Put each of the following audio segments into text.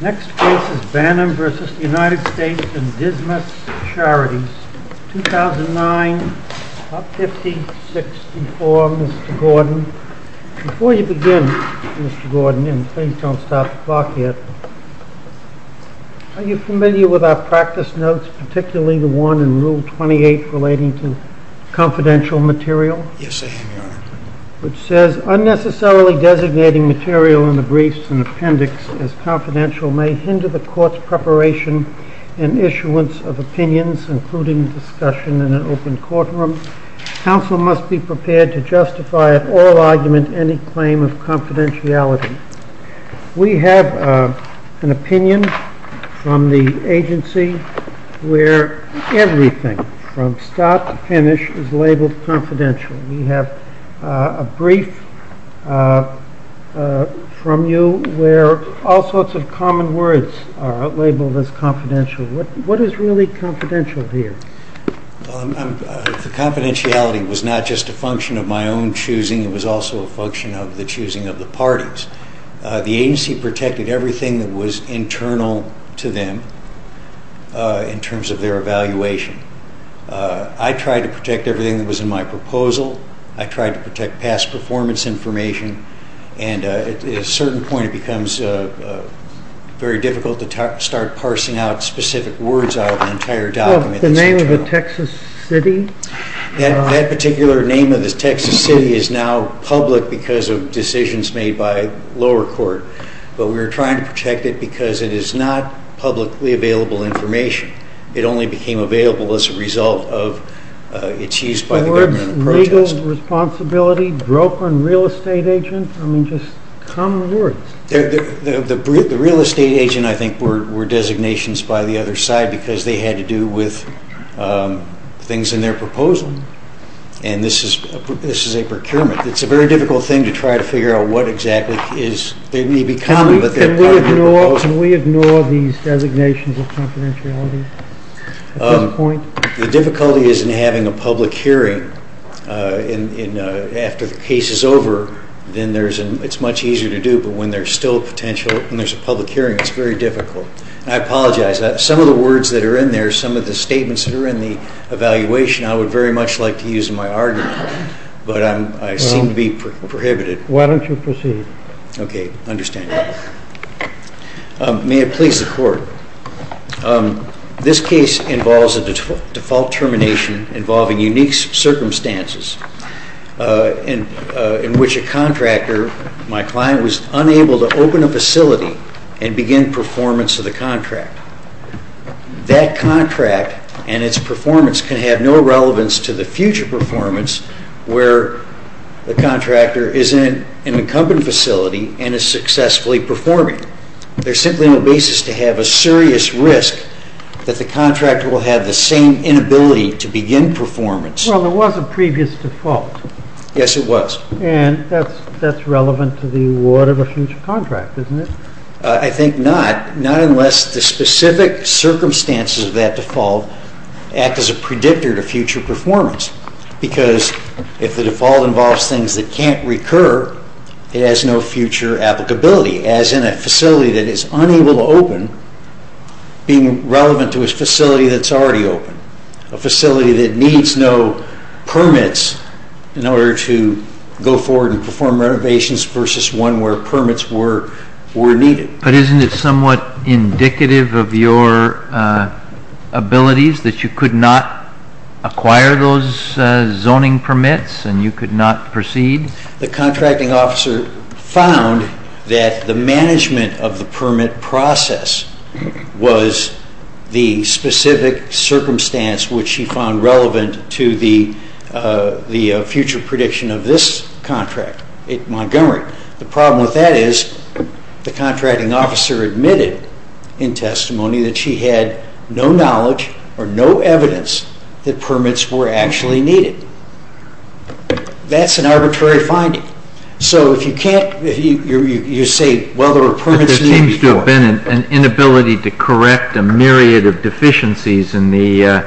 Next case is Bannon v. United States and Dismas Charities, 2009, about 50-64, Mr. Gordon. Before you begin, Mr. Gordon, and please don't stop the clock yet, are you familiar with our practice notes, particularly the one in Rule 28 relating to confidential material? Yes, I am, Your Honor. Which says, unnecessarily designating material in the briefs and appendix as confidential may hinder the court's preparation and issuance of opinions, including discussion in an open courtroom. Counsel must be prepared to justify at all argument any claim of confidentiality. We have an opinion from the agency where everything from start to finish is labeled confidential. We have a brief from you where all sorts of common words are labeled as confidential. What is really confidential here? The confidentiality was not just a function of my own choosing, it was also a function of the choosing of the parties. The agency protected everything that was internal to them in terms of their evaluation. I tried to protect everything that was in my proposal, I tried to protect past performance information, and at a certain point it becomes very difficult to start parsing out specific words out of an entire document. The name of the Texas City? That particular name of the Texas City is now public because of decisions made by lower court, but we were trying to protect it because it is not publicly available information. It only became available as a result of its use by the government of protest. Awards, legal responsibility, broke on real estate agent, I mean just common words. The real estate agent I think were designations by the other side because they had to do with things in their proposal, and this is a procurement. It is a very difficult thing to try to figure out what exactly is, they may be common, but they are part of the proposal. Can we ignore these designations of confidentiality? The difficulty is in having a public hearing after the case is over, then it is much easier to do, but when there is a public hearing, it is very difficult. I apologize, some of the words that are in there, some of the statements that are in the evaluation, I would very much like to use in my argument, but I seem to be prohibited. Why don't you proceed? Okay, I understand. May it please the court. This case involves a default termination involving unique circumstances in which a contractor, my client, was unable to open a facility and begin performance of the contract. That contract and its performance can have no relevance to the future performance where the contractor is in an incumbent facility and is successfully performing. There is simply no basis to have a serious risk that the contractor will have the same inability to begin performance. Well, there was a previous default. Yes, it was. And that is relevant to the award of a future contract, isn't it? I think not, not unless the specific circumstances of that default act as a predictor to future performance because if the default involves things that can't recur, it has no future applicability, as in a facility that is unable to open being relevant to a facility that is already open, a facility that needs no permits in order to go forward and perform renovations versus one where permits were needed. But isn't it somewhat indicative of your abilities that you could not acquire those zoning permits and you could not proceed? The contracting officer found that the management of the permit process was the specific circumstance which she found relevant to the future prediction of this contract at Montgomery. The problem with that is the contracting officer admitted in testimony that she had no knowledge or no evidence that permits were actually needed. That's an arbitrary finding. So if you can't, you say, well, there were permits needed before. But there seems to have been an inability to correct a myriad of deficiencies in the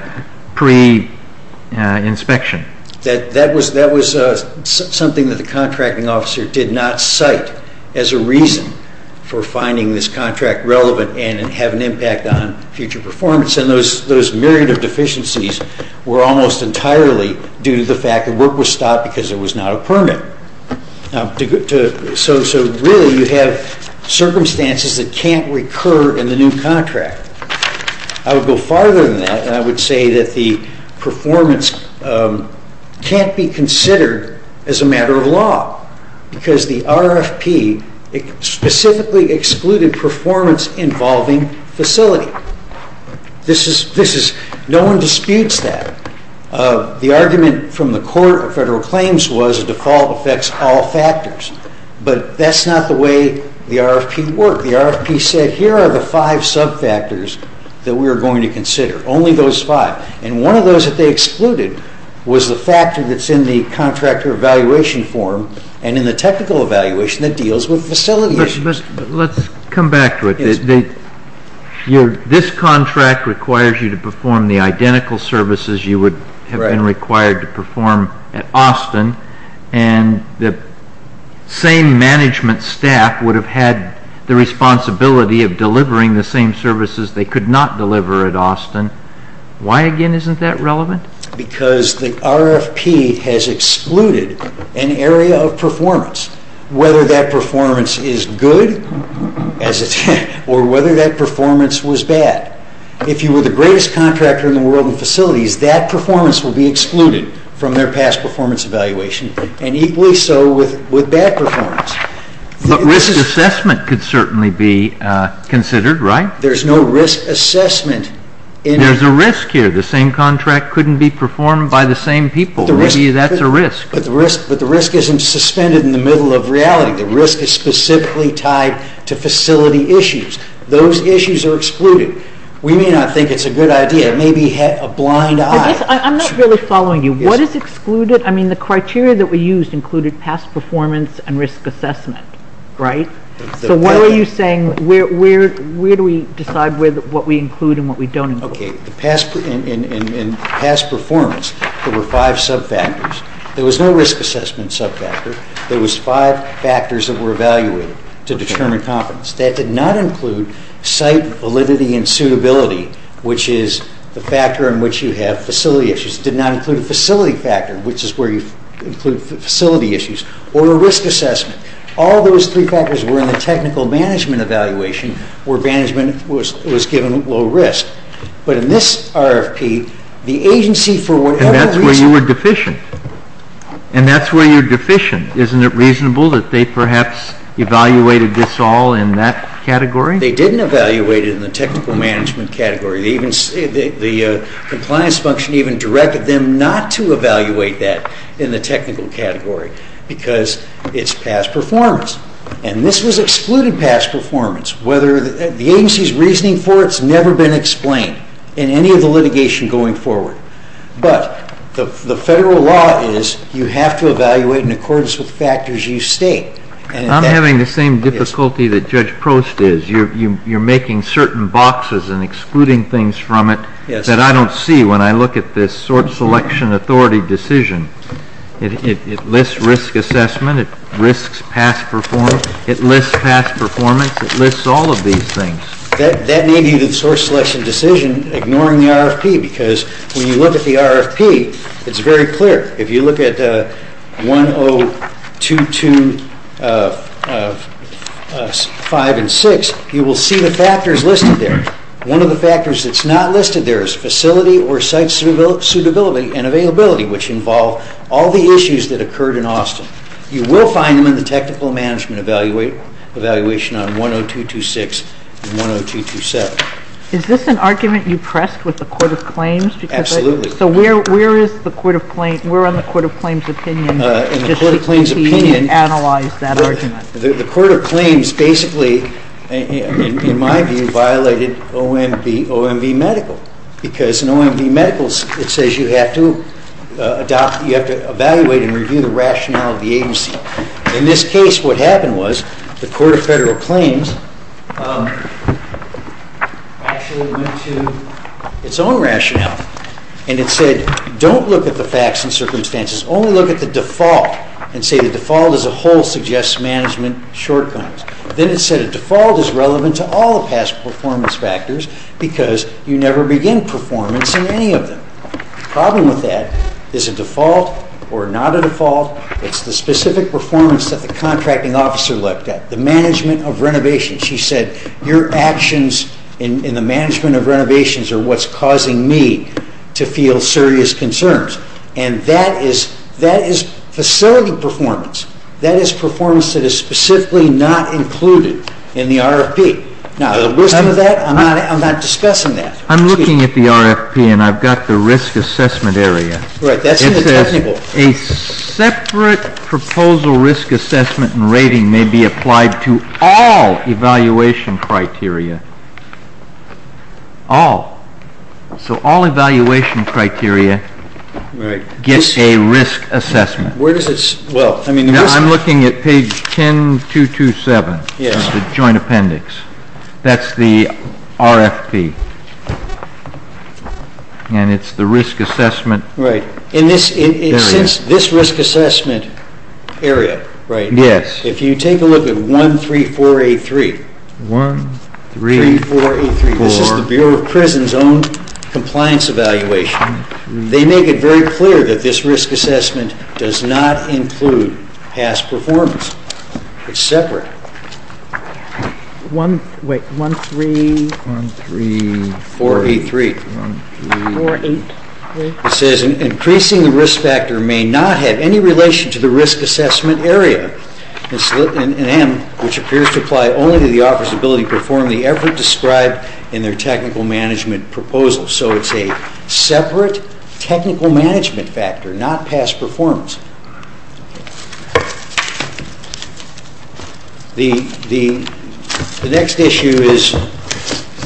pre-inspection. That was something that the contracting officer did not cite as a reason for finding this contract relevant and have an impact on future performance. And those myriad of deficiencies were almost entirely due to the fact that work was stopped because there was not a permit. So really you have circumstances that can't recur in the new contract. I would go farther than that, and I would say that the performance can't be considered as a matter of law because the RFP specifically excluded performance involving facility. No one disputes that. The argument from the Court of Federal Claims was a default affects all factors. But that's not the way the RFP worked. The RFP said here are the five sub-factors that we are going to consider, only those five. And one of those that they excluded was the factor that's in the contractor evaluation form and in the technical evaluation that deals with facility issues. Let's come back to it. This contract requires you to perform the identical services you would have been required to perform at Austin, and the same management staff would have had the responsibility of delivering the same services they could not deliver at Austin. Why, again, isn't that relevant? Because the RFP has excluded an area of performance, whether that performance is good or whether that performance was bad. If you were the greatest contractor in the world in facilities, that performance will be excluded from their past performance evaluation, and equally so with bad performance. But risk assessment could certainly be considered, right? There's no risk assessment. There's a risk here. The same contract couldn't be performed by the same people. Maybe that's a risk. But the risk isn't suspended in the middle of reality. The risk is specifically tied to facility issues. Those issues are excluded. We may not think it's a good idea. It may be a blind eye. I'm not really following you. What is excluded? I mean, the criteria that we used included past performance and risk assessment, right? So what are you saying? Where do we decide what we include and what we don't include? Okay. In past performance, there were five subfactors. There was no risk assessment subfactor. There was five factors that were evaluated to determine confidence. That did not include site validity and suitability, which is the factor in which you have facility issues. It did not include a facility factor, which is where you include facility issues, or a risk assessment. All those three factors were in the technical management evaluation, where management was given low risk. But in this RFP, the agency for whatever reason... And that's where you were deficient. And that's where you're deficient. Isn't it reasonable that they perhaps evaluated this all in that category? They didn't evaluate it in the technical management category. The compliance function even directed them not to evaluate that in the technical category because it's past performance. And this was excluded past performance. The agency's reasoning for it has never been explained in any of the litigation going forward. But the federal law is you have to evaluate in accordance with factors you state. I'm having the same difficulty that Judge Prost is. You're making certain boxes and excluding things from it that I don't see when I look at this sort selection authority decision. It lists risk assessment. It lists past performance. It lists past performance. It lists all of these things. That may be the source selection decision, ignoring the RFP, because when you look at the RFP, it's very clear. If you look at 102.2.5 and 6, you will see the factors listed there. One of the factors that's not listed there is facility or site suitability and availability, which involve all the issues that occurred in Austin. You will find them in the technical management evaluation on 102.2.6 and 102.2.7. Is this an argument you pressed with the Court of Claims? Absolutely. So where is the Court of Claims? We're on the Court of Claims' opinion. The Court of Claims' opinion. Just to continue and analyze that argument. The Court of Claims basically, in my view, violated OMV Medical because in OMV Medical it says you have to evaluate and review the rationale of the agency. In this case, what happened was the Court of Federal Claims actually went to its own rationale and it said, don't look at the facts and circumstances, only look at the default and say the default as a whole suggests management shortcomings. Then it said a default is relevant to all the past performance factors because you never begin performance in any of them. The problem with that is a default or not a default. It's the specific performance that the contracting officer looked at, the management of renovations. She said your actions in the management of renovations are what's causing me to feel serious concerns. And that is facility performance. That is performance that is specifically not included in the RFP. I'm not discussing that. I'm looking at the RFP and I've got the risk assessment area. It says a separate proposal risk assessment and rating may be applied to all evaluation criteria. All. So all evaluation criteria get a risk assessment. I'm looking at page 10227, the joint appendix. That's the RFP and it's the risk assessment area. Since this risk assessment area, if you take a look at 13483, this is the Bureau of Prisons' own compliance evaluation, they make it very clear that this risk assessment does not include past performance. It's separate. Wait, 13483. It says increasing the risk factor may not have any relation to the risk assessment area, and which appears to apply only to the officer's ability to perform the effort described in their technical management proposal. So it's a separate technical management factor, not past performance. The next issue is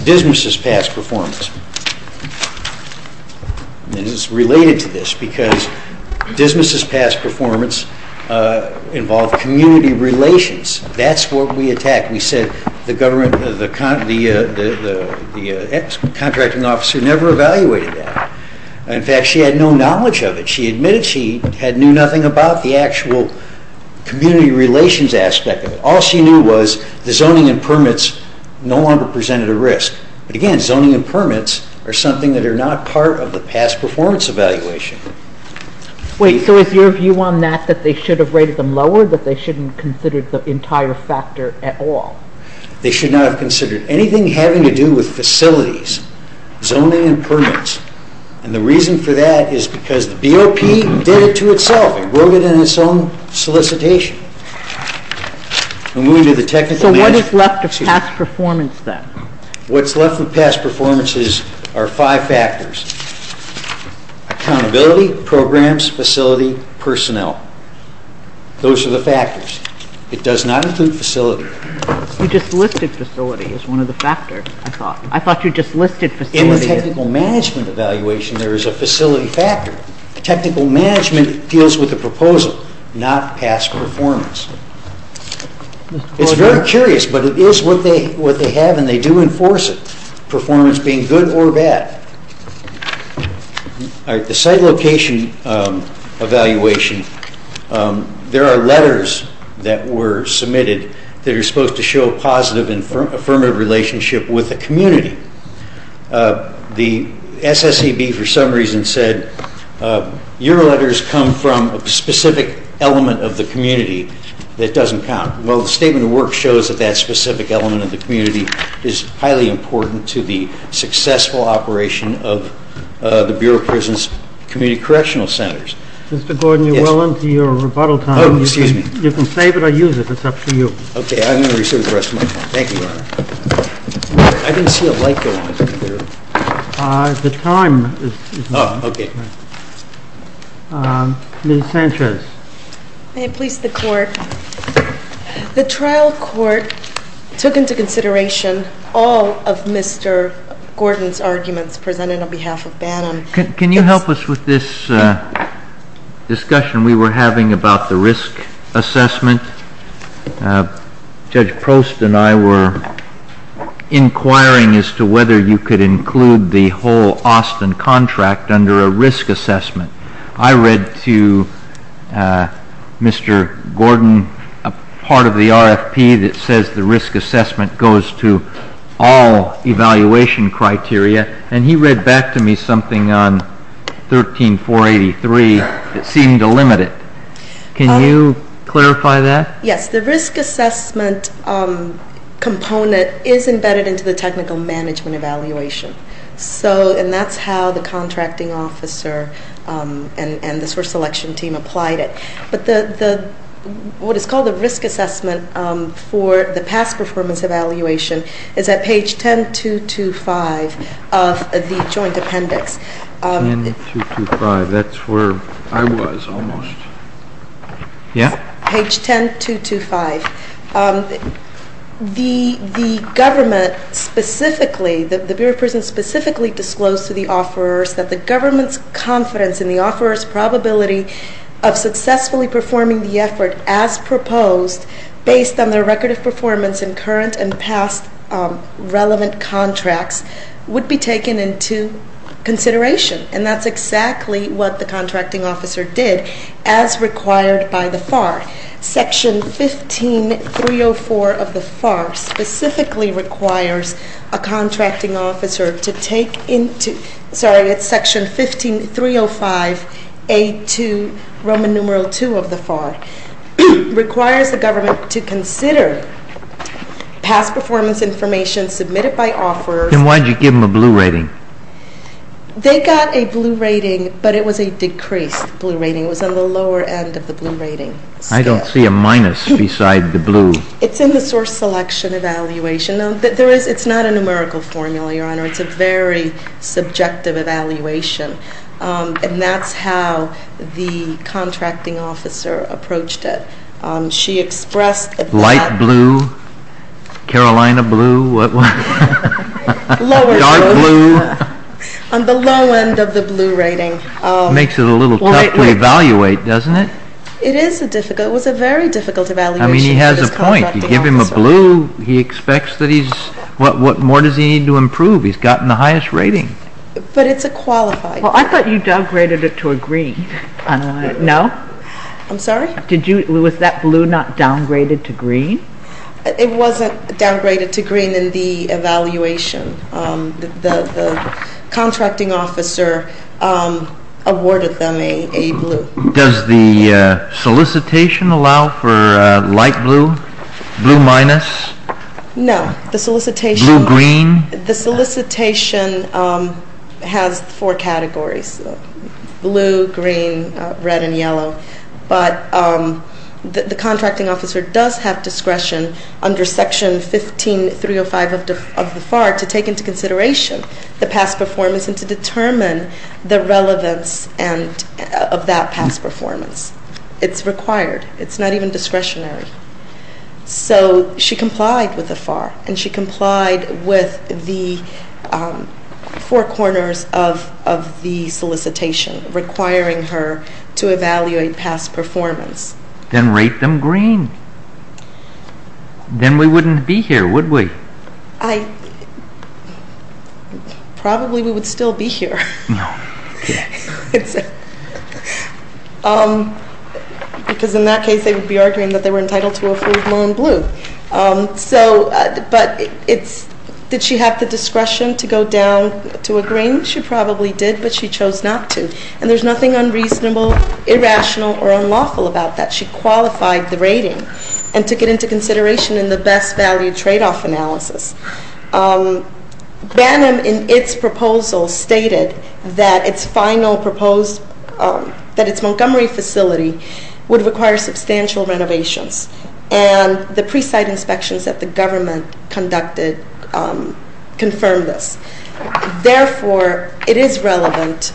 Dismiss's past performance. And it's related to this because Dismiss's past performance involved community relations. That's what we attacked. We said the contracting officer never evaluated that. In fact, she had no knowledge of it. She admitted she knew nothing about the actual community relations aspect of it. All she knew was the zoning and permits no longer presented a risk. But again, zoning and permits are something that are not part of the past performance evaluation. Wait, so is your view on that that they should have rated them lower, that they shouldn't have considered the entire factor at all? They should not have considered anything having to do with facilities, zoning and permits. And the reason for that is because the BOP did it to itself. It wrote it in its own solicitation. So what is left of past performance then? What's left of past performance are five factors, accountability, programs, facility, personnel. Those are the factors. It does not include facility. You just listed facility as one of the factors, I thought. I thought you just listed facility. In the technical management evaluation, there is a facility factor. Technical management deals with the proposal, not past performance. It's very curious, but it is what they have, and they do enforce it, performance being good or bad. The site location evaluation, there are letters that were submitted that are supposed to show a positive and affirmative relationship with the community. The SSEB, for some reason, said, your letters come from a specific element of the community that doesn't count. Well, the statement of work shows that that specific element of the community is highly important to the successful operation of the Bureau of Prisons Community Correctional Centers. Mr. Gordon, you're well into your rebuttal time. Oh, excuse me. You can save it or use it. It's up to you. Okay. I'm going to reserve the rest of my time. Thank you, Your Honor. I didn't see a light go on. The time is up. Oh, okay. Ms. Sanchez. May it please the Court. The trial court took into consideration all of Mr. Gordon's arguments presented on behalf of Bannon. Can you help us with this discussion we were having about the risk assessment? Judge Prost and I were inquiring as to whether you could include the whole Austin contract under a risk assessment. I read to Mr. Gordon a part of the RFP that says the risk assessment goes to all evaluation criteria. And he read back to me something on 13483 that seemed to limit it. Can you clarify that? Yes. The risk assessment component is embedded into the technical management evaluation. And that's how the contracting officer and the source selection team applied it. But what is called a risk assessment for the past performance evaluation is at page 10.225 of the joint appendix. Page 10.225. That's where I was almost. Yeah? Page 10.225. The government specifically, the Bureau of Prisons specifically, disclosed to the offerors that the government's confidence in the offeror's probability of successfully performing the effort as proposed based on their record of performance in current and past relevant contracts would be taken into consideration. And that's exactly what the contracting officer did as required by the FAR. Section 15.304 of the FAR specifically requires a contracting officer to take into, sorry, it's section 15.305A2, Roman numeral II of the FAR, requires the government to consider past performance information submitted by offerors. And why did you give them a blue rating? They got a blue rating, but it was a decreased blue rating. It was on the lower end of the blue rating. I don't see a minus beside the blue. It's in the source selection evaluation. It's not a numerical formula, Your Honor. It's a very subjective evaluation. And that's how the contracting officer approached it. She expressed that. Light blue, Carolina blue. Dark blue. On the low end of the blue rating. Makes it a little tough to evaluate, doesn't it? It is a difficult, it was a very difficult evaluation for this contracting officer. I mean, he has a point. You give him a blue, he expects that he's, what more does he need to improve? He's gotten the highest rating. But it's a qualified. Well, I thought you downgraded it to a green. No? I'm sorry? Did you, was that blue not downgraded to green? It wasn't downgraded to green in the evaluation. The contracting officer awarded them a blue. Does the solicitation allow for light blue? Blue minus? No. The solicitation. Blue green? The solicitation has four categories. Blue, green, red, and yellow. But the contracting officer does have discretion under section 15.305 of the FAR to take into consideration the past performance and to determine the relevance of that past performance. It's required. It's not even discretionary. So she complied with the FAR, and she complied with the four corners of the solicitation requiring her to evaluate past performance. Then rate them green. Then we wouldn't be here, would we? I, probably we would still be here. No. Because in that case they would be arguing that they were entitled to a full blown blue. So, but it's, did she have the discretion to go down to a green? She probably did, but she chose not to. And there's nothing unreasonable, irrational, or unlawful about that. She qualified the rating and took it into consideration in the best value tradeoff analysis. Banham, in its proposal, stated that its final proposed, that its Montgomery facility would require substantial renovations. And the pre-site inspections that the government conducted confirmed this. Therefore, it is relevant,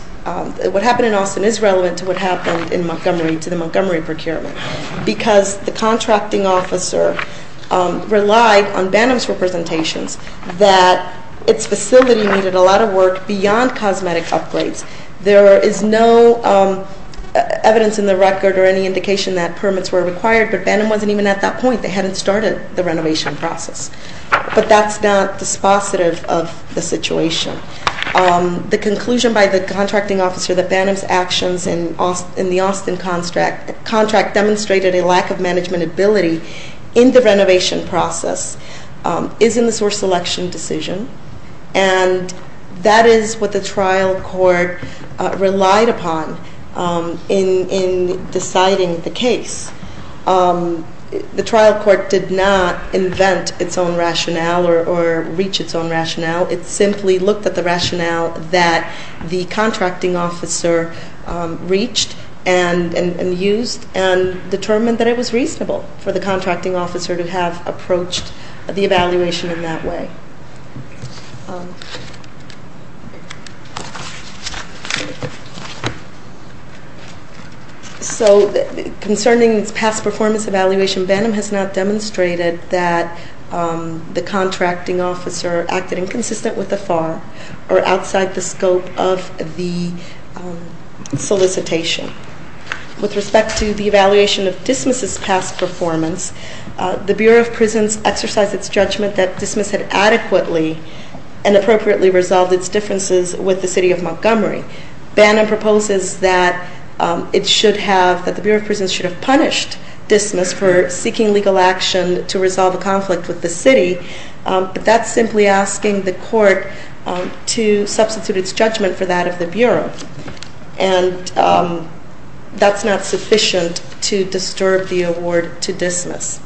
what happened in Austin is relevant to what happened in Montgomery, to the Montgomery procurement. Because the contracting officer relied on Banham's representations that its facility needed a lot of work beyond cosmetic upgrades. There is no evidence in the record or any indication that permits were required. But Banham wasn't even at that point. They hadn't started the renovation process. But that's not dispositive of the situation. The conclusion by the contracting officer that Banham's actions in the Austin contract demonstrated a lack of management ability in the renovation process is in the source selection decision. And that is what the trial court relied upon in deciding the case. The trial court did not invent its own rationale or reach its own rationale. It simply looked at the rationale that the contracting officer reached and used and determined that it was reasonable for the contracting officer to have approached the evaluation in that way. So concerning its past performance evaluation, Banham has not demonstrated that the contracting officer acted inconsistent with the FAR or outside the scope of the solicitation. With respect to the evaluation of Dismiss' past performance, the Bureau of Prisons exercised its judgment that Dismiss had added to the evaluation adequately and appropriately resolved its differences with the city of Montgomery. Banham proposes that the Bureau of Prisons should have punished Dismiss for seeking legal action to resolve a conflict with the city. But that's simply asking the court to substitute its judgment for that of the Bureau. And that's not sufficient to disturb the award to Dismiss.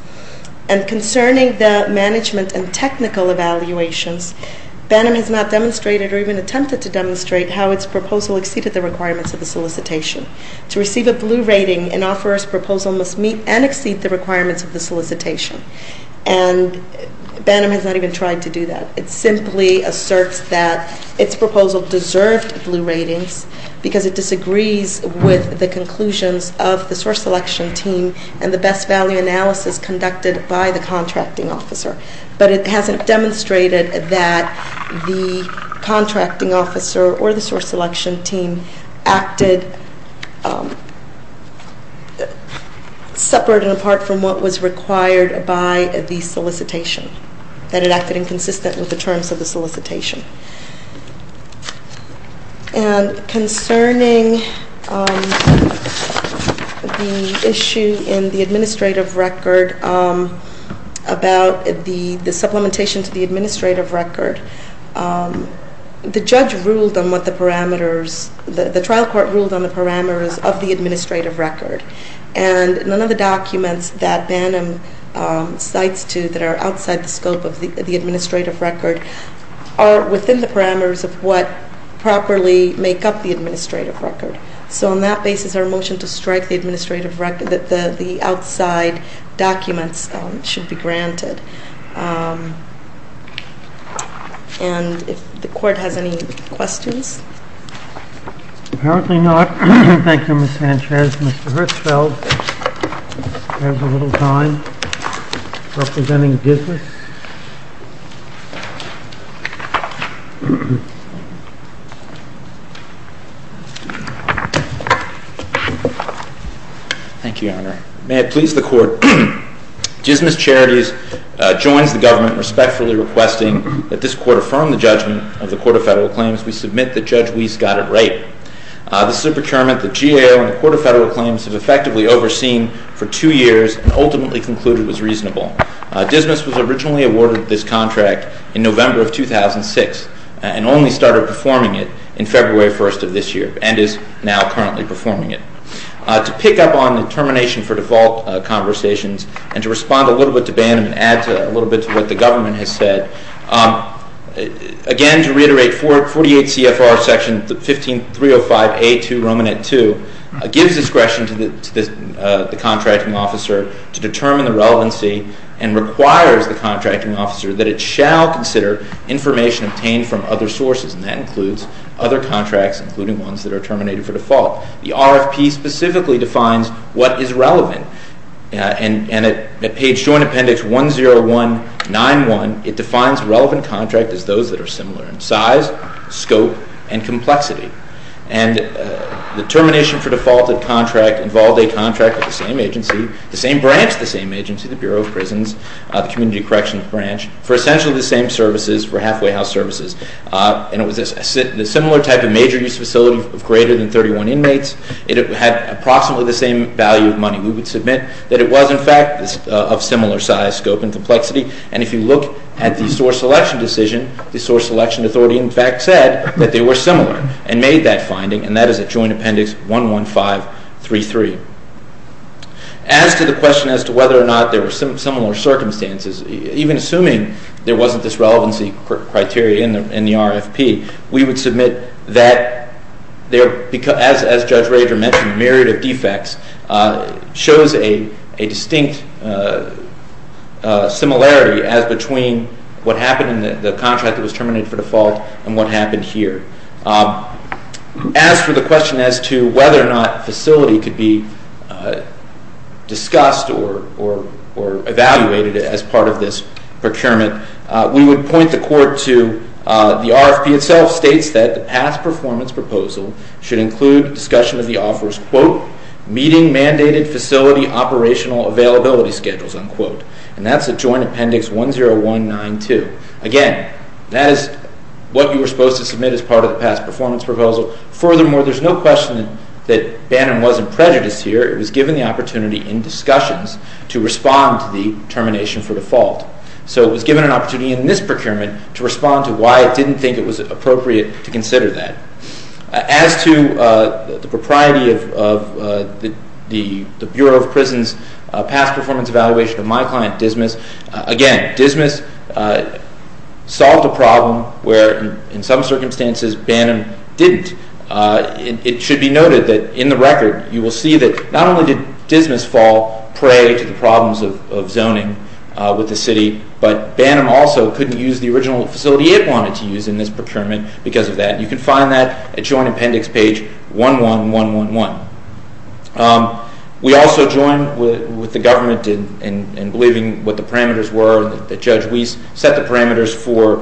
And concerning the management and technical evaluations, Banham has not demonstrated or even attempted to demonstrate how its proposal exceeded the requirements of the solicitation. To receive a blue rating, an offeror's proposal must meet and exceed the requirements of the solicitation. And Banham has not even tried to do that. It simply asserts that its proposal deserved blue ratings because it disagrees with the conclusions of the source selection team and the best value analysis conducted by the contracting officer. But it hasn't demonstrated that the contracting officer or the source selection team acted separate and apart from what was required by the solicitation, that it acted inconsistent with the terms of the solicitation. And concerning the issue in the administrative record, about the supplementation to the administrative record, the trial court ruled on the parameters of the administrative record. And none of the documents that Banham cites that are outside the scope of the administrative record are within the parameters of what properly make up the administrative record. So on that basis, our motion to strike the administrative record, that the outside documents should be granted. And if the court has any questions? Apparently not. Thank you, Ms. Sanchez. Mr. Hertzfeld has a little time representing Dismiss. Thank you, Your Honor. May it please the court. Dismiss Charities joins the government respectfully requesting that this court affirm the judgment of the Court of Federal Claims. We submit that Judge Weiss got it right. This is a procurement that GAO and the Court of Federal Claims have effectively overseen for two years and ultimately concluded was reasonable. and only started performing it in February 1st of this year and is now currently performing it. To pick up on the termination for default conversations and to respond a little bit to Banham and add a little bit to what the government has said, again, to reiterate, 48 CFR Section 15305A2, Romanette 2, gives discretion to the contracting officer to determine the relevancy and requires the contracting officer that it shall consider information obtained from other sources, and that includes other contracts, including ones that are terminated for default. The RFP specifically defines what is relevant, and at page joint appendix 10191, it defines relevant contract as those that are similar in size, scope, and complexity. And the termination for defaulted contract involved a contract with the same agency, the same branch, the same agency, the Bureau of Prisons, the Community Corrections Branch, for essentially the same services, for halfway house services. And it was a similar type of major use facility of greater than 31 inmates. It had approximately the same value of money. We would submit that it was, in fact, of similar size, scope, and complexity. And if you look at the source selection decision, the source selection authority, in fact, said that they were similar and made that finding, and that is at joint appendix 11533. As to the question as to whether or not there were similar circumstances, even assuming there wasn't this relevancy criteria in the RFP, we would submit that, as Judge Rager mentioned, a myriad of defects shows a distinct similarity as between what happened in the contract that was terminated for default and what happened here. As for the question as to whether or not facility could be discussed or evaluated as part of this procurement, we would point the court to the RFP itself states that the past performance proposal should include discussion of the offers, quote, meeting mandated facility operational availability schedules, unquote. And that's at joint appendix 10192. Again, that is what you were supposed to submit as part of the past performance proposal. Furthermore, there's no question that Bannon wasn't prejudiced here. It was given the opportunity in discussions to respond to the termination for default. So it was given an opportunity in this procurement to respond to why it didn't think it was appropriate to consider that. As to the propriety of the Bureau of Prisons past performance evaluation of my client, Dismas, again, Dismas solved a problem where in some circumstances Bannon didn't. It should be noted that in the record you will see that not only did Dismas fall prey to the problems of zoning with the city, but Bannon also couldn't use the original facility it wanted to use in this procurement because of that. You can find that at joint appendix page 11111. We also join with the government in believing what the parameters were, that Judge Weiss set the parameters for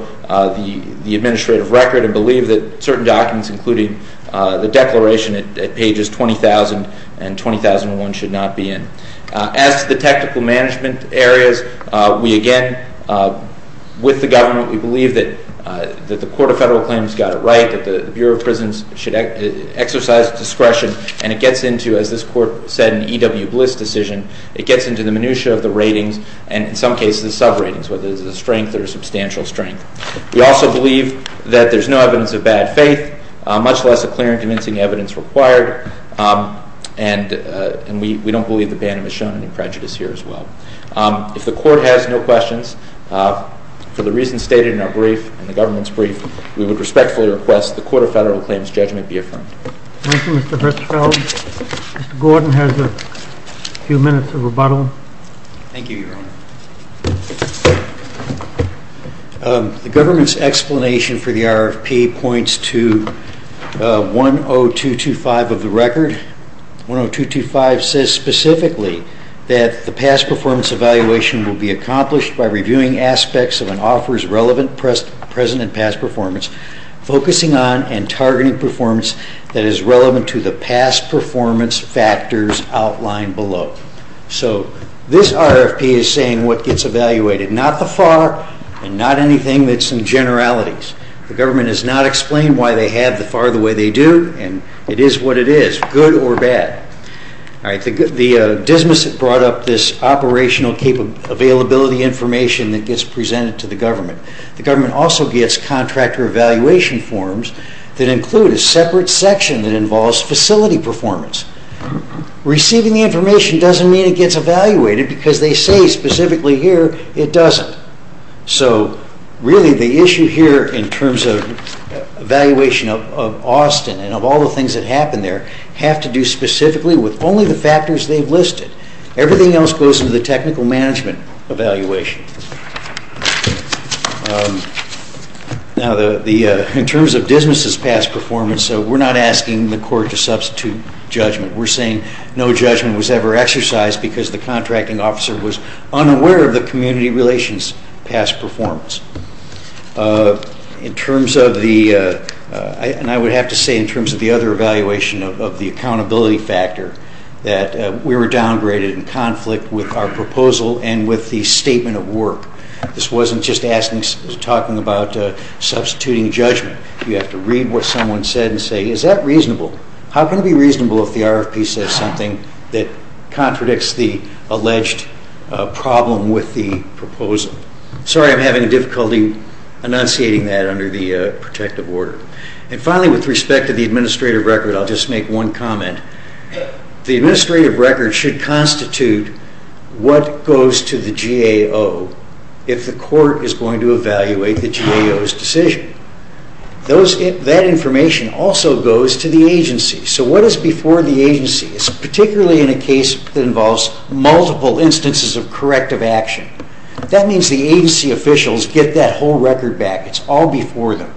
the administrative record and believe that certain documents, including the declaration at pages 20000 and 20001, should not be in. As to the technical management areas, we again, with the government, we believe that the Court of Federal Claims got it right, that the Bureau of Prisons should exercise discretion, and it gets into, as this Court said, an E.W. Bliss decision. It gets into the minutia of the ratings and, in some cases, sub-ratings, whether there's a strength or a substantial strength. We also believe that there's no evidence of bad faith, much less a clear and convincing evidence required, and we don't believe that Bannon has shown any prejudice here as well. If the Court has no questions, for the reasons stated in our brief and the government's brief, we would respectfully request the Court of Federal Claims judgment be affirmed. Thank you, Mr. Fitzgerald. Mr. Gordon has a few minutes of rebuttal. Thank you, Your Honor. The government's explanation for the RFP points to 10225 of the record. 10225 says specifically that the past performance evaluation will be accomplished by reviewing aspects of an offeror's relevant present and past performance, focusing on and targeting performance that is relevant to the past performance factors outlined below. So this RFP is saying what gets evaluated, not the FAR and not anything that's in generalities. The government has not explained why they have the FAR the way they do, and it is what it is, good or bad. The Dismissive brought up this operational availability information that gets presented to the government. The government also gets contractor evaluation forms that include a separate section that involves facility performance. Receiving the information doesn't mean it gets evaluated, because they say specifically here it doesn't. So really the issue here in terms of evaluation of Austin and of all the things that happen there have to do specifically with only the factors they've listed. Everything else goes into the technical management evaluation. In terms of Dismissive's past performance, we're not asking the court to substitute judgment. We're saying no judgment was ever exercised because the contracting officer was unaware of the community relations past performance. I would have to say in terms of the other evaluation of the accountability factor, that we were downgraded in conflict with our proposal and with the statement of work. This wasn't just talking about substituting judgment. You have to read what someone said and say, is that reasonable? How can it be reasonable if the RFP says something that contradicts the alleged problem with the proposal? Sorry, I'm having difficulty enunciating that under the protective order. Finally, with respect to the administrative record, I'll just make one comment. The administrative record should constitute what goes to the GAO if the court is going to evaluate the GAO's decision. That information also goes to the agency. So what is before the agency? It's particularly in a case that involves multiple instances of corrective action. That means the agency officials get that whole record back. It's all before them.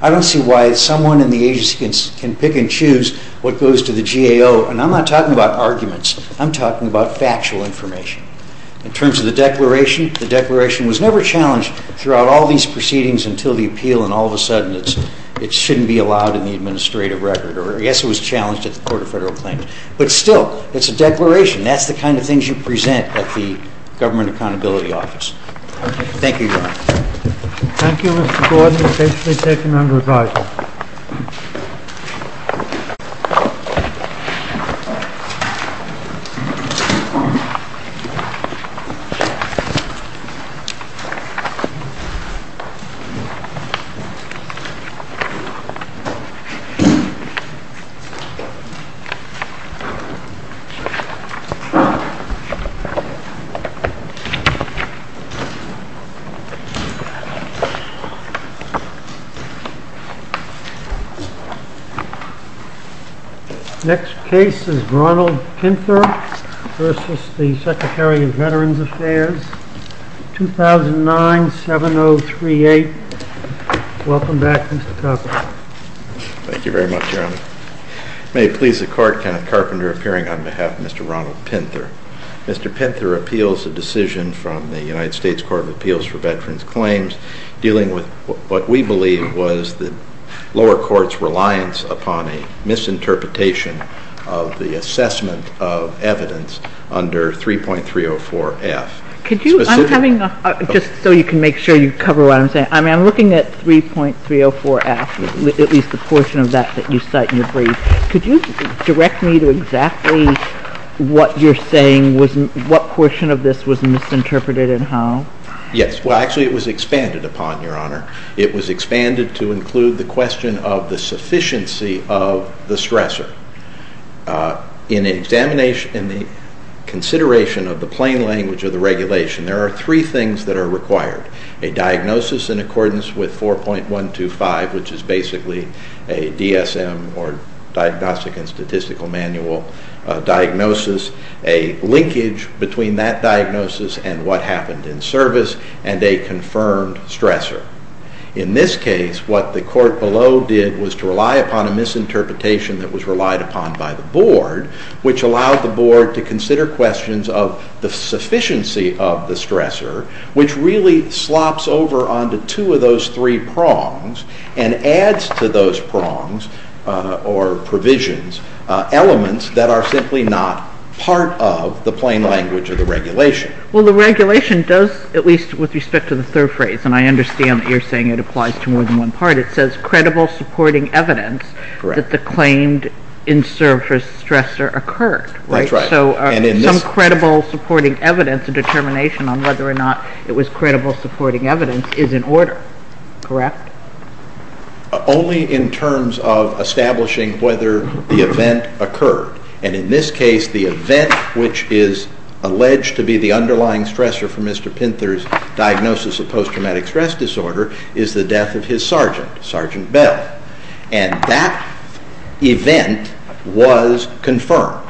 I don't see why someone in the agency can pick and choose what goes to the GAO. I'm not talking about arguments. I'm talking about factual information. In terms of the declaration, the declaration was never challenged throughout all these proceedings until the appeal and all of a sudden it shouldn't be allowed in the administrative record. Yes, it was challenged at the Court of Federal Claims. But still, it's a declaration. That's the kind of things you present at the Government Accountability Office. Thank you, Your Honor. Thank you, Mr. Gordon. It's basically taken under advisory. Next case is Ronald Pinter versus the Secretary of Veterans Affairs, 2009-7038. Welcome back, Mr. Carpenter. Thank you very much, Your Honor. May it please the Court, Kenneth Carpenter appearing on behalf of Mr. Ronald Pinter. Mr. Pinter appeals a decision from the United States Court of Appeals for Veterans Claims dealing with what we believe was the lower court's reliance upon a misinterpretation of the assessment of evidence under 3.304F. Could you, I'm having a, just so you can make sure you cover what I'm saying, I'm looking at 3.304F, at least the portion of that that you cite in your brief. Could you direct me to exactly what you're saying was, what portion of this was misinterpreted and how? Yes, well actually it was expanded upon, Your Honor. It was expanded to include the question of the sufficiency of the stressor. In examination, in the consideration of the plain language of the regulation, there are three things that are required. A diagnosis in accordance with 4.125, which is basically a DSM or Diagnostic and Statistical Manual diagnosis, a linkage between that diagnosis and what happened in service, and a confirmed stressor. In this case, what the court below did was to rely upon a misinterpretation that was relied upon by the Board, which allowed the Board to consider questions of the sufficiency of the stressor, which really slops over onto two of those three prongs and adds to those prongs, or provisions, elements that are simply not part of the plain language of the regulation. Well, the regulation does, at least with respect to the third phrase, and I understand that you're saying it applies to more than one part, it says credible supporting evidence that the claimed in-service stressor occurred. That's right. So some credible supporting evidence, a determination on whether or not it was credible supporting evidence, is in order. Correct? Only in terms of establishing whether the event occurred. And in this case, the event which is alleged to be the underlying stressor for Mr. Pinter's diagnosis of post-traumatic stress disorder is the death of his sergeant, Sergeant Bell. And that event was confirmed.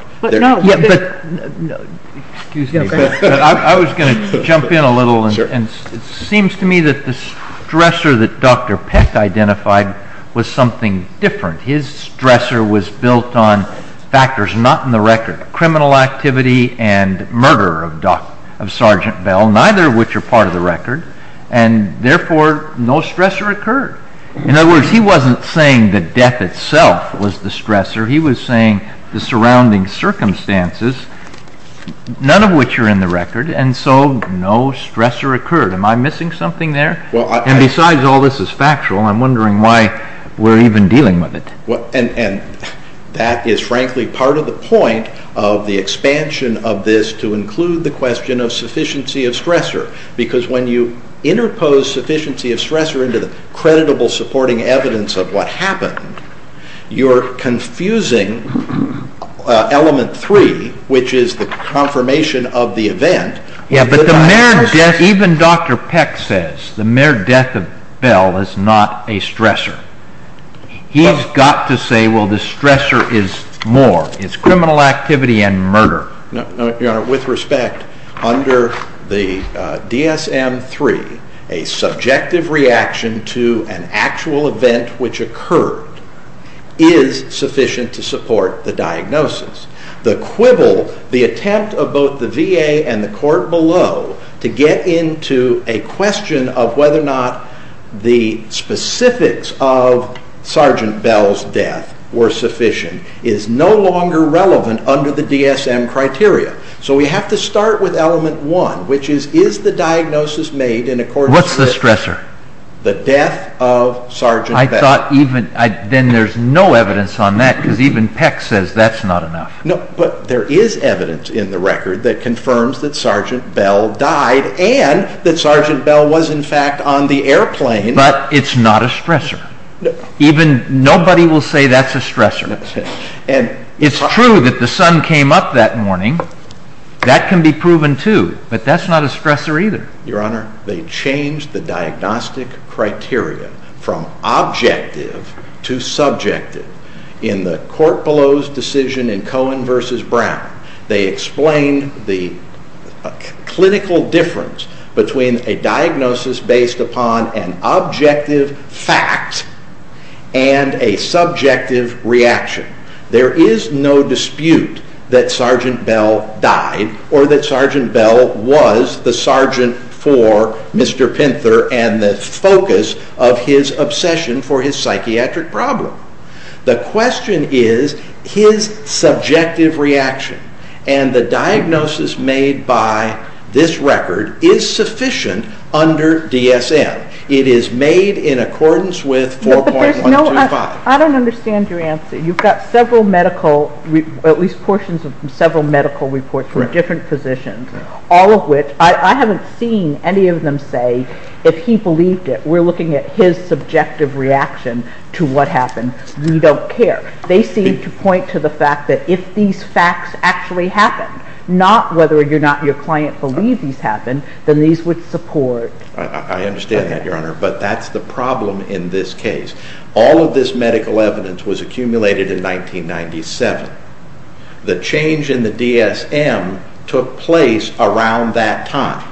Excuse me, but I was going to jump in a little, and it seems to me that the stressor that Dr. Peck identified was something different. His stressor was built on factors not in the record, criminal activity and murder of Sergeant Bell, neither of which are part of the record, and therefore no stressor occurred. In other words, he wasn't saying that death itself was the stressor, he was saying the surrounding circumstances, none of which are in the record, and so no stressor occurred. Am I missing something there? And besides, all this is factual, and I'm wondering why we're even dealing with it. And that is frankly part of the point of the expansion of this to include the question of sufficiency of stressor, because when you interpose sufficiency of stressor into the credible supporting evidence of what happened, you're confusing element three, which is the confirmation of the event. Yeah, but the mere death, even Dr. Peck says, the mere death of Bell is not a stressor. He's got to say, well, the stressor is more. It's criminal activity and murder. No, Your Honor, with respect, under the DSM-3, a subjective reaction to an actual event which occurred is sufficient to support the diagnosis. The quibble, the attempt of both the VA and the court below to get into a question of whether or not the specifics of Sergeant Bell's death were sufficient is no longer relevant under the DSM criteria. So we have to start with element one, which is, is the diagnosis made in accordance with... What's the stressor? ...the death of Sergeant Bell? I thought even, then there's no evidence on that, because even Peck says that's not enough. No, but there is evidence in the record that confirms that Sergeant Bell died and that Sergeant Bell was in fact on the airplane. But it's not a stressor. Even, nobody will say that's a stressor. It's true that the sun came up that morning. That can be proven too, but that's not a stressor either. Your Honor, they changed the diagnostic criteria from objective to subjective. In the court below's decision in Cohen v. Brown, they explained the clinical difference between a diagnosis based upon an objective fact and a subjective reaction. There is no dispute that Sergeant Bell died or that Sergeant Bell was the sergeant for Mr. Pinter and the focus of his obsession for his psychiatric problem. The question is, his subjective reaction and the diagnosis made by this record is sufficient under DSM. It is made in accordance with 4.125. I don't understand your answer. You've got several medical, at least portions of several medical reports from different physicians, all of which, I haven't seen any of them say if he believed it. We're looking at his subjective reaction to what happened. We don't care. They seem to point to the fact that if these facts actually happened, not whether or not your client believed these happened, then these would support... I understand that, Your Honor, but that's the problem in this case. All of this medical evidence was accumulated in 1997. The change in the DSM took place around that time.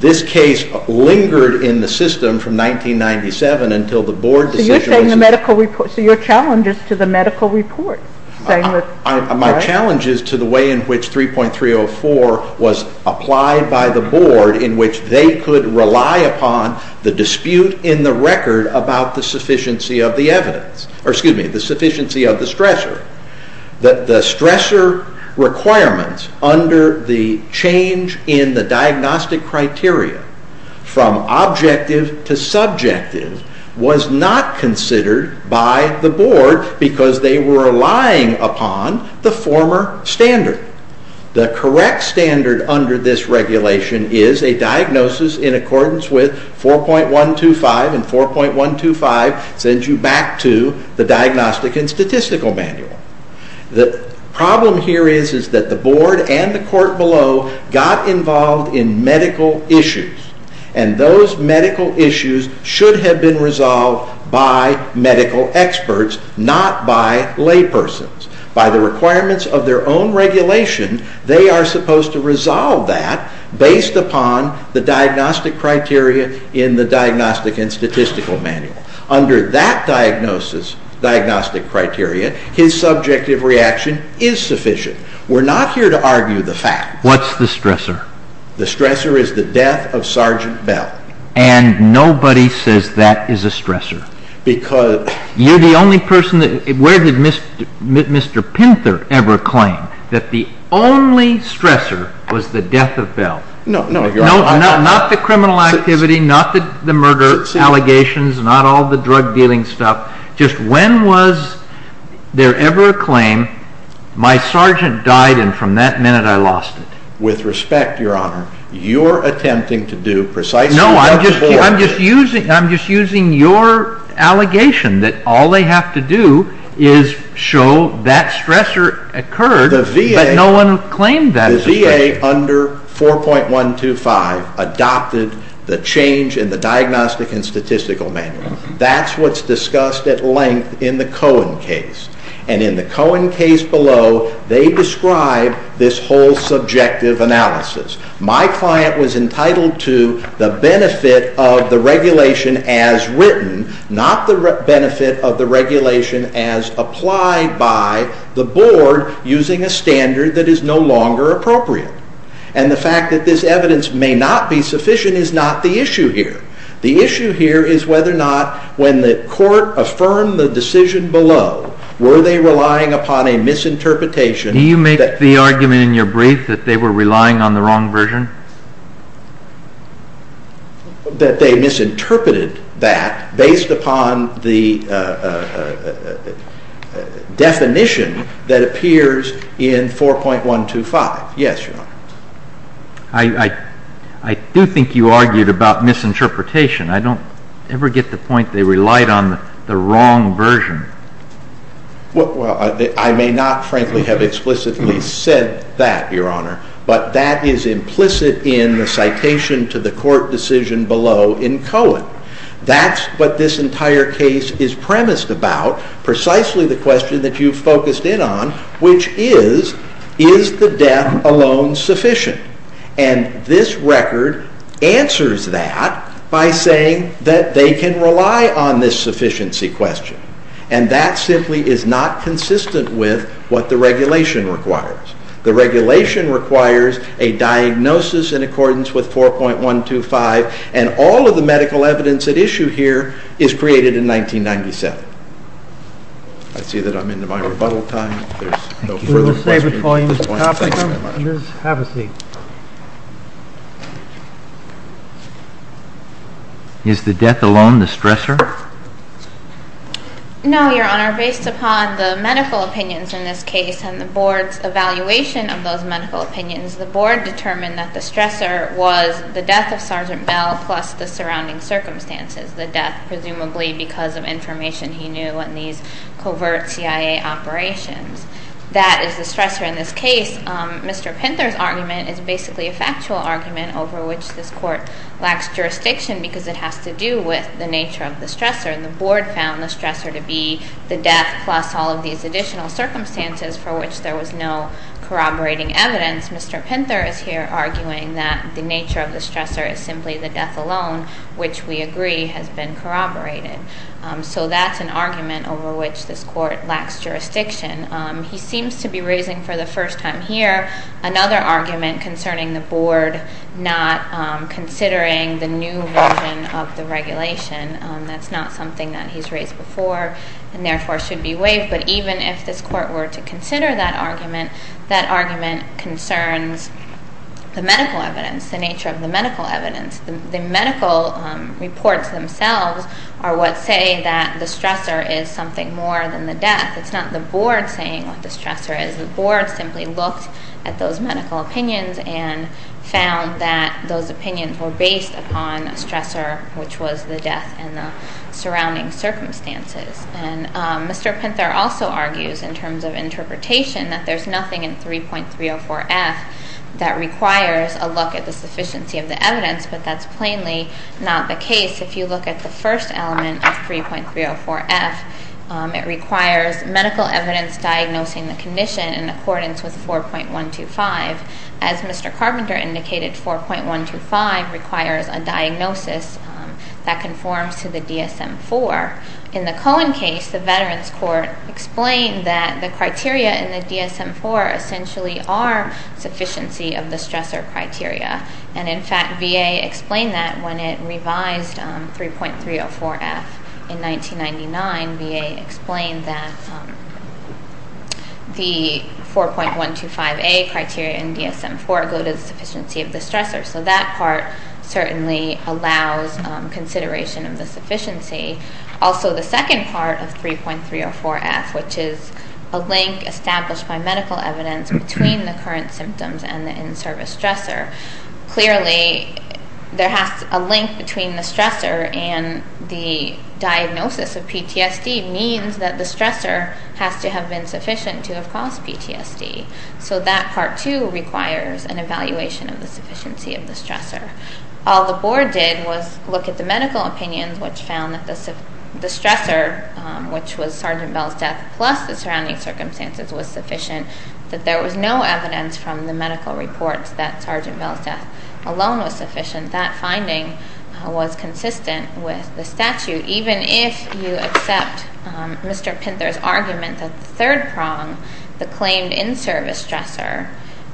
This case lingered in the system from 1997 until the board decision... So you're saying the medical report... So your challenge is to the medical report. My challenge is to the way in which 3.304 was applied by the board in which they could rely upon the dispute in the record about the sufficiency of the stressor. The stressor requirements under the change in the diagnostic criteria from objective to subjective was not considered by the board because they were relying upon the former standard. The correct standard under this regulation is a diagnosis in accordance with 4.125, and 4.125 sends you back to the Diagnostic and Statistical Manual. The problem here is that the board and the court below got involved in medical issues, and those medical issues should have been resolved by medical experts, not by laypersons. By the requirements of their own regulation, they are supposed to resolve that based upon the diagnostic criteria in the Diagnostic and Statistical Manual. Under that diagnostic criteria, his subjective reaction is sufficient. We're not here to argue the facts. What's the stressor? The stressor is the death of Sergeant Bell. And nobody says that is a stressor. Because... You're the only person that... The only stressor was the death of Bell. No, no, Your Honor. Not the criminal activity, not the murder allegations, not all the drug dealing stuff. Just when was there ever a claim, my sergeant died and from that minute I lost it. With respect, Your Honor, you're attempting to do precisely what the board did. No, I'm just using your allegation that all they have to do is show that stressor occurred... The VA under 4.125 adopted the change in the Diagnostic and Statistical Manual. That's what's discussed at length in the Cohen case. And in the Cohen case below, they describe this whole subjective analysis. My client was entitled to the benefit of the regulation as written, not the benefit of the regulation as applied by the board using a standard that is no longer appropriate. And the fact that this evidence may not be sufficient is not the issue here. The issue here is whether or not when the court affirmed the decision below, were they relying upon a misinterpretation... Do you make the argument in your brief that they were relying on the wrong version? That they misinterpreted that based upon the definition that appears in 4.125? Yes, Your Honor. I do think you argued about misinterpretation. I don't ever get the point they relied on the wrong version. Well, I may not frankly have explicitly said that, Your Honor, but that is implicit in the citation to the court decision below in Cohen. That's what this entire case is premised about, precisely the question that you focused in on, which is, is the death alone sufficient? And this record answers that by saying that they can rely on this sufficiency question. And that simply is not consistent with what the regulation requires. The regulation requires a diagnosis in accordance with 4.125, and all of the medical evidence at issue here is created in 1997. I see that I'm into my rebuttal time. There's no further questions. We will save it for you, Mr. Toppinger. Please have a seat. Is the death alone the stressor? No, Your Honor. Based upon the medical opinions in this case and the board's evaluation of those medical opinions, the board determined that the stressor was the death of Sergeant Bell plus the surrounding circumstances, the death presumably because of information he knew in these covert CIA operations. That is the stressor in this case. Mr. Pinter's argument is basically a factual argument over which this court lacks jurisdiction because it has to do with the nature of the stressor, and the board found the stressor to be the death plus all of these additional circumstances for which there was no corroborating evidence. Mr. Pinter is here arguing that the nature of the stressor is simply the death alone, which we agree has been corroborated. So that's an argument over which this court lacks jurisdiction. He seems to be raising for the first time here another argument concerning the board not considering the new version of the regulation. That's not something that he's raised before and therefore should be waived, but even if this court were to consider that argument, that argument concerns the medical evidence, the nature of the medical evidence. The medical reports themselves are what say that the stressor is something more than the death. It's not the board saying what the stressor is. The board simply looked at those medical opinions and found that those opinions were based upon a stressor, which was the death and the surrounding circumstances. And Mr. Pinter also argues in terms of interpretation that there's nothing in 3.304F that requires a look at the sufficiency of the evidence, but that's plainly not the case. If you look at the first element of 3.304F, it requires medical evidence diagnosing the condition in accordance with 4.125. As Mr. Carpenter indicated, 4.125 requires a diagnosis that conforms to the DSM-IV. In the Cohen case, the Veterans Court explained that the criteria in the DSM-IV essentially are sufficiency of the stressor criteria, and in fact VA explained that when it revised 3.304F in 1999. VA explained that the 4.125A criteria in DSM-IV go to the sufficiency of the stressor, so that part certainly allows consideration of the sufficiency. Also, the second part of 3.304F, which is a link established by medical evidence between the current symptoms and the in-service stressor, clearly there has to be a link between the stressor and the diagnosis of PTSD means that the stressor has to have been sufficient to have caused PTSD. So that part, too, requires an evaluation of the sufficiency of the stressor. All the Board did was look at the medical opinions, which found that the stressor, which was Sergeant Bell's death plus the surrounding circumstances was sufficient, that there was no evidence from the medical reports that Sergeant Bell's death alone was sufficient. That finding was consistent with the statute. Even if you accept Mr. Pinter's argument that the third prong, the claimed in-service stressor,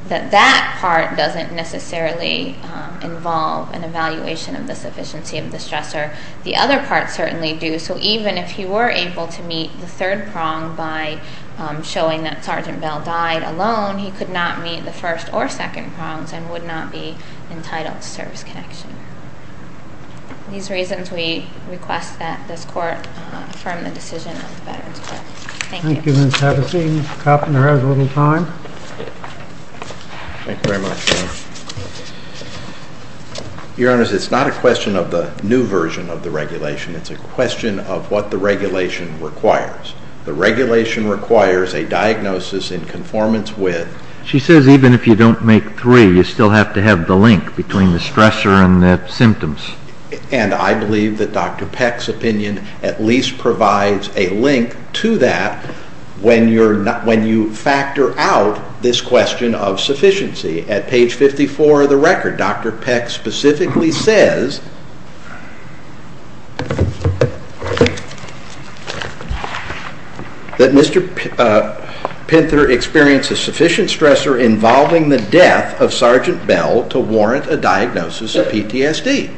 that that part doesn't necessarily involve an evaluation of the sufficiency of the stressor, the other parts certainly do. So even if he were able to meet the third prong by showing that Sergeant Bell died alone, he could not meet the first or second prongs and would not be entitled to service connection. For these reasons, we request that this Court affirm the decision of the Veterans' Court. Thank you. Thank you, Ms. Havaseed. Mr. Koppner has a little time. Thank you very much. Your Honors, it's not a question of the new version of the regulation. It's a question of what the regulation requires. The regulation requires a diagnosis in conformance with... She says even if you don't make three, you still have to have the link between the stressor and the symptoms. And I believe that Dr. Peck's opinion at least provides a link to that when you factor out this question of sufficiency. At page 54 of the record, Dr. Peck specifically says that Mr. Pinter experienced a sufficient stressor involving the death of Sergeant Bell to warrant a diagnosis of PTSD.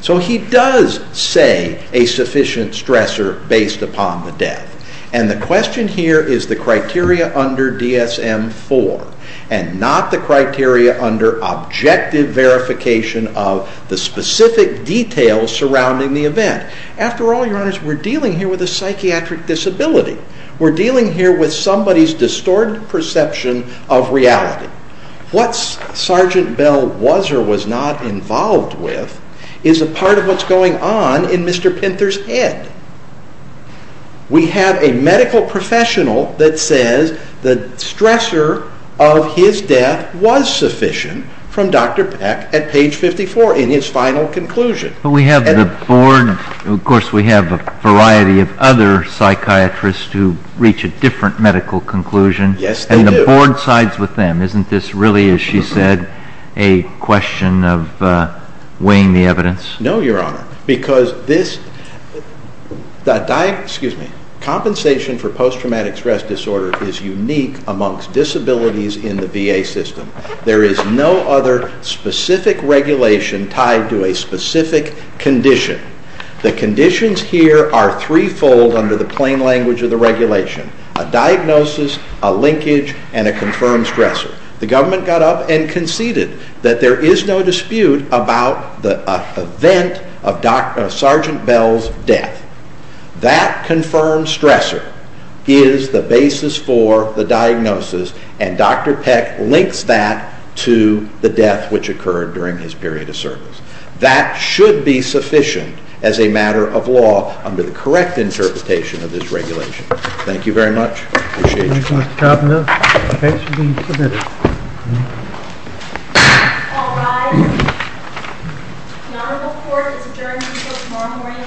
So he does say a sufficient stressor based upon the death. And the question here is the criteria under DSM-IV and not the criteria under objective verification of the specific details surrounding the event. After all, Your Honors, we're dealing here with a psychiatric disability. We're dealing here with somebody's distorted perception of reality. What Sergeant Bell was or was not involved with is a part of what's going on in Mr. Pinter's head. We have a medical professional that says the stressor of his death was sufficient from Dr. Peck at page 54 in his final conclusion. But we have the board. Of course, we have a variety of other psychiatrists who reach a different medical conclusion. Yes, they do. And the board sides with them. Isn't this really, as she said, a question of weighing the evidence? No, Your Honor. Because compensation for post-traumatic stress disorder is unique amongst disabilities in the VA system. There is no other specific regulation tied to a specific condition. The conditions here are threefold under the plain language of the regulation. A diagnosis, a linkage, and a confirmed stressor. The government got up and conceded that there is no dispute about the event of Sergeant Bell's death. That confirmed stressor is the basis for the diagnosis, and Dr. Peck links that to the death which occurred during his period of service. That should be sufficient as a matter of law under the correct interpretation of this regulation. Thank you very much. Appreciate you. Thank you, Mr. Cavanaugh. The case should be submitted. All rise. The Honorable Court is adjourned until tomorrow morning at 10 o'clock.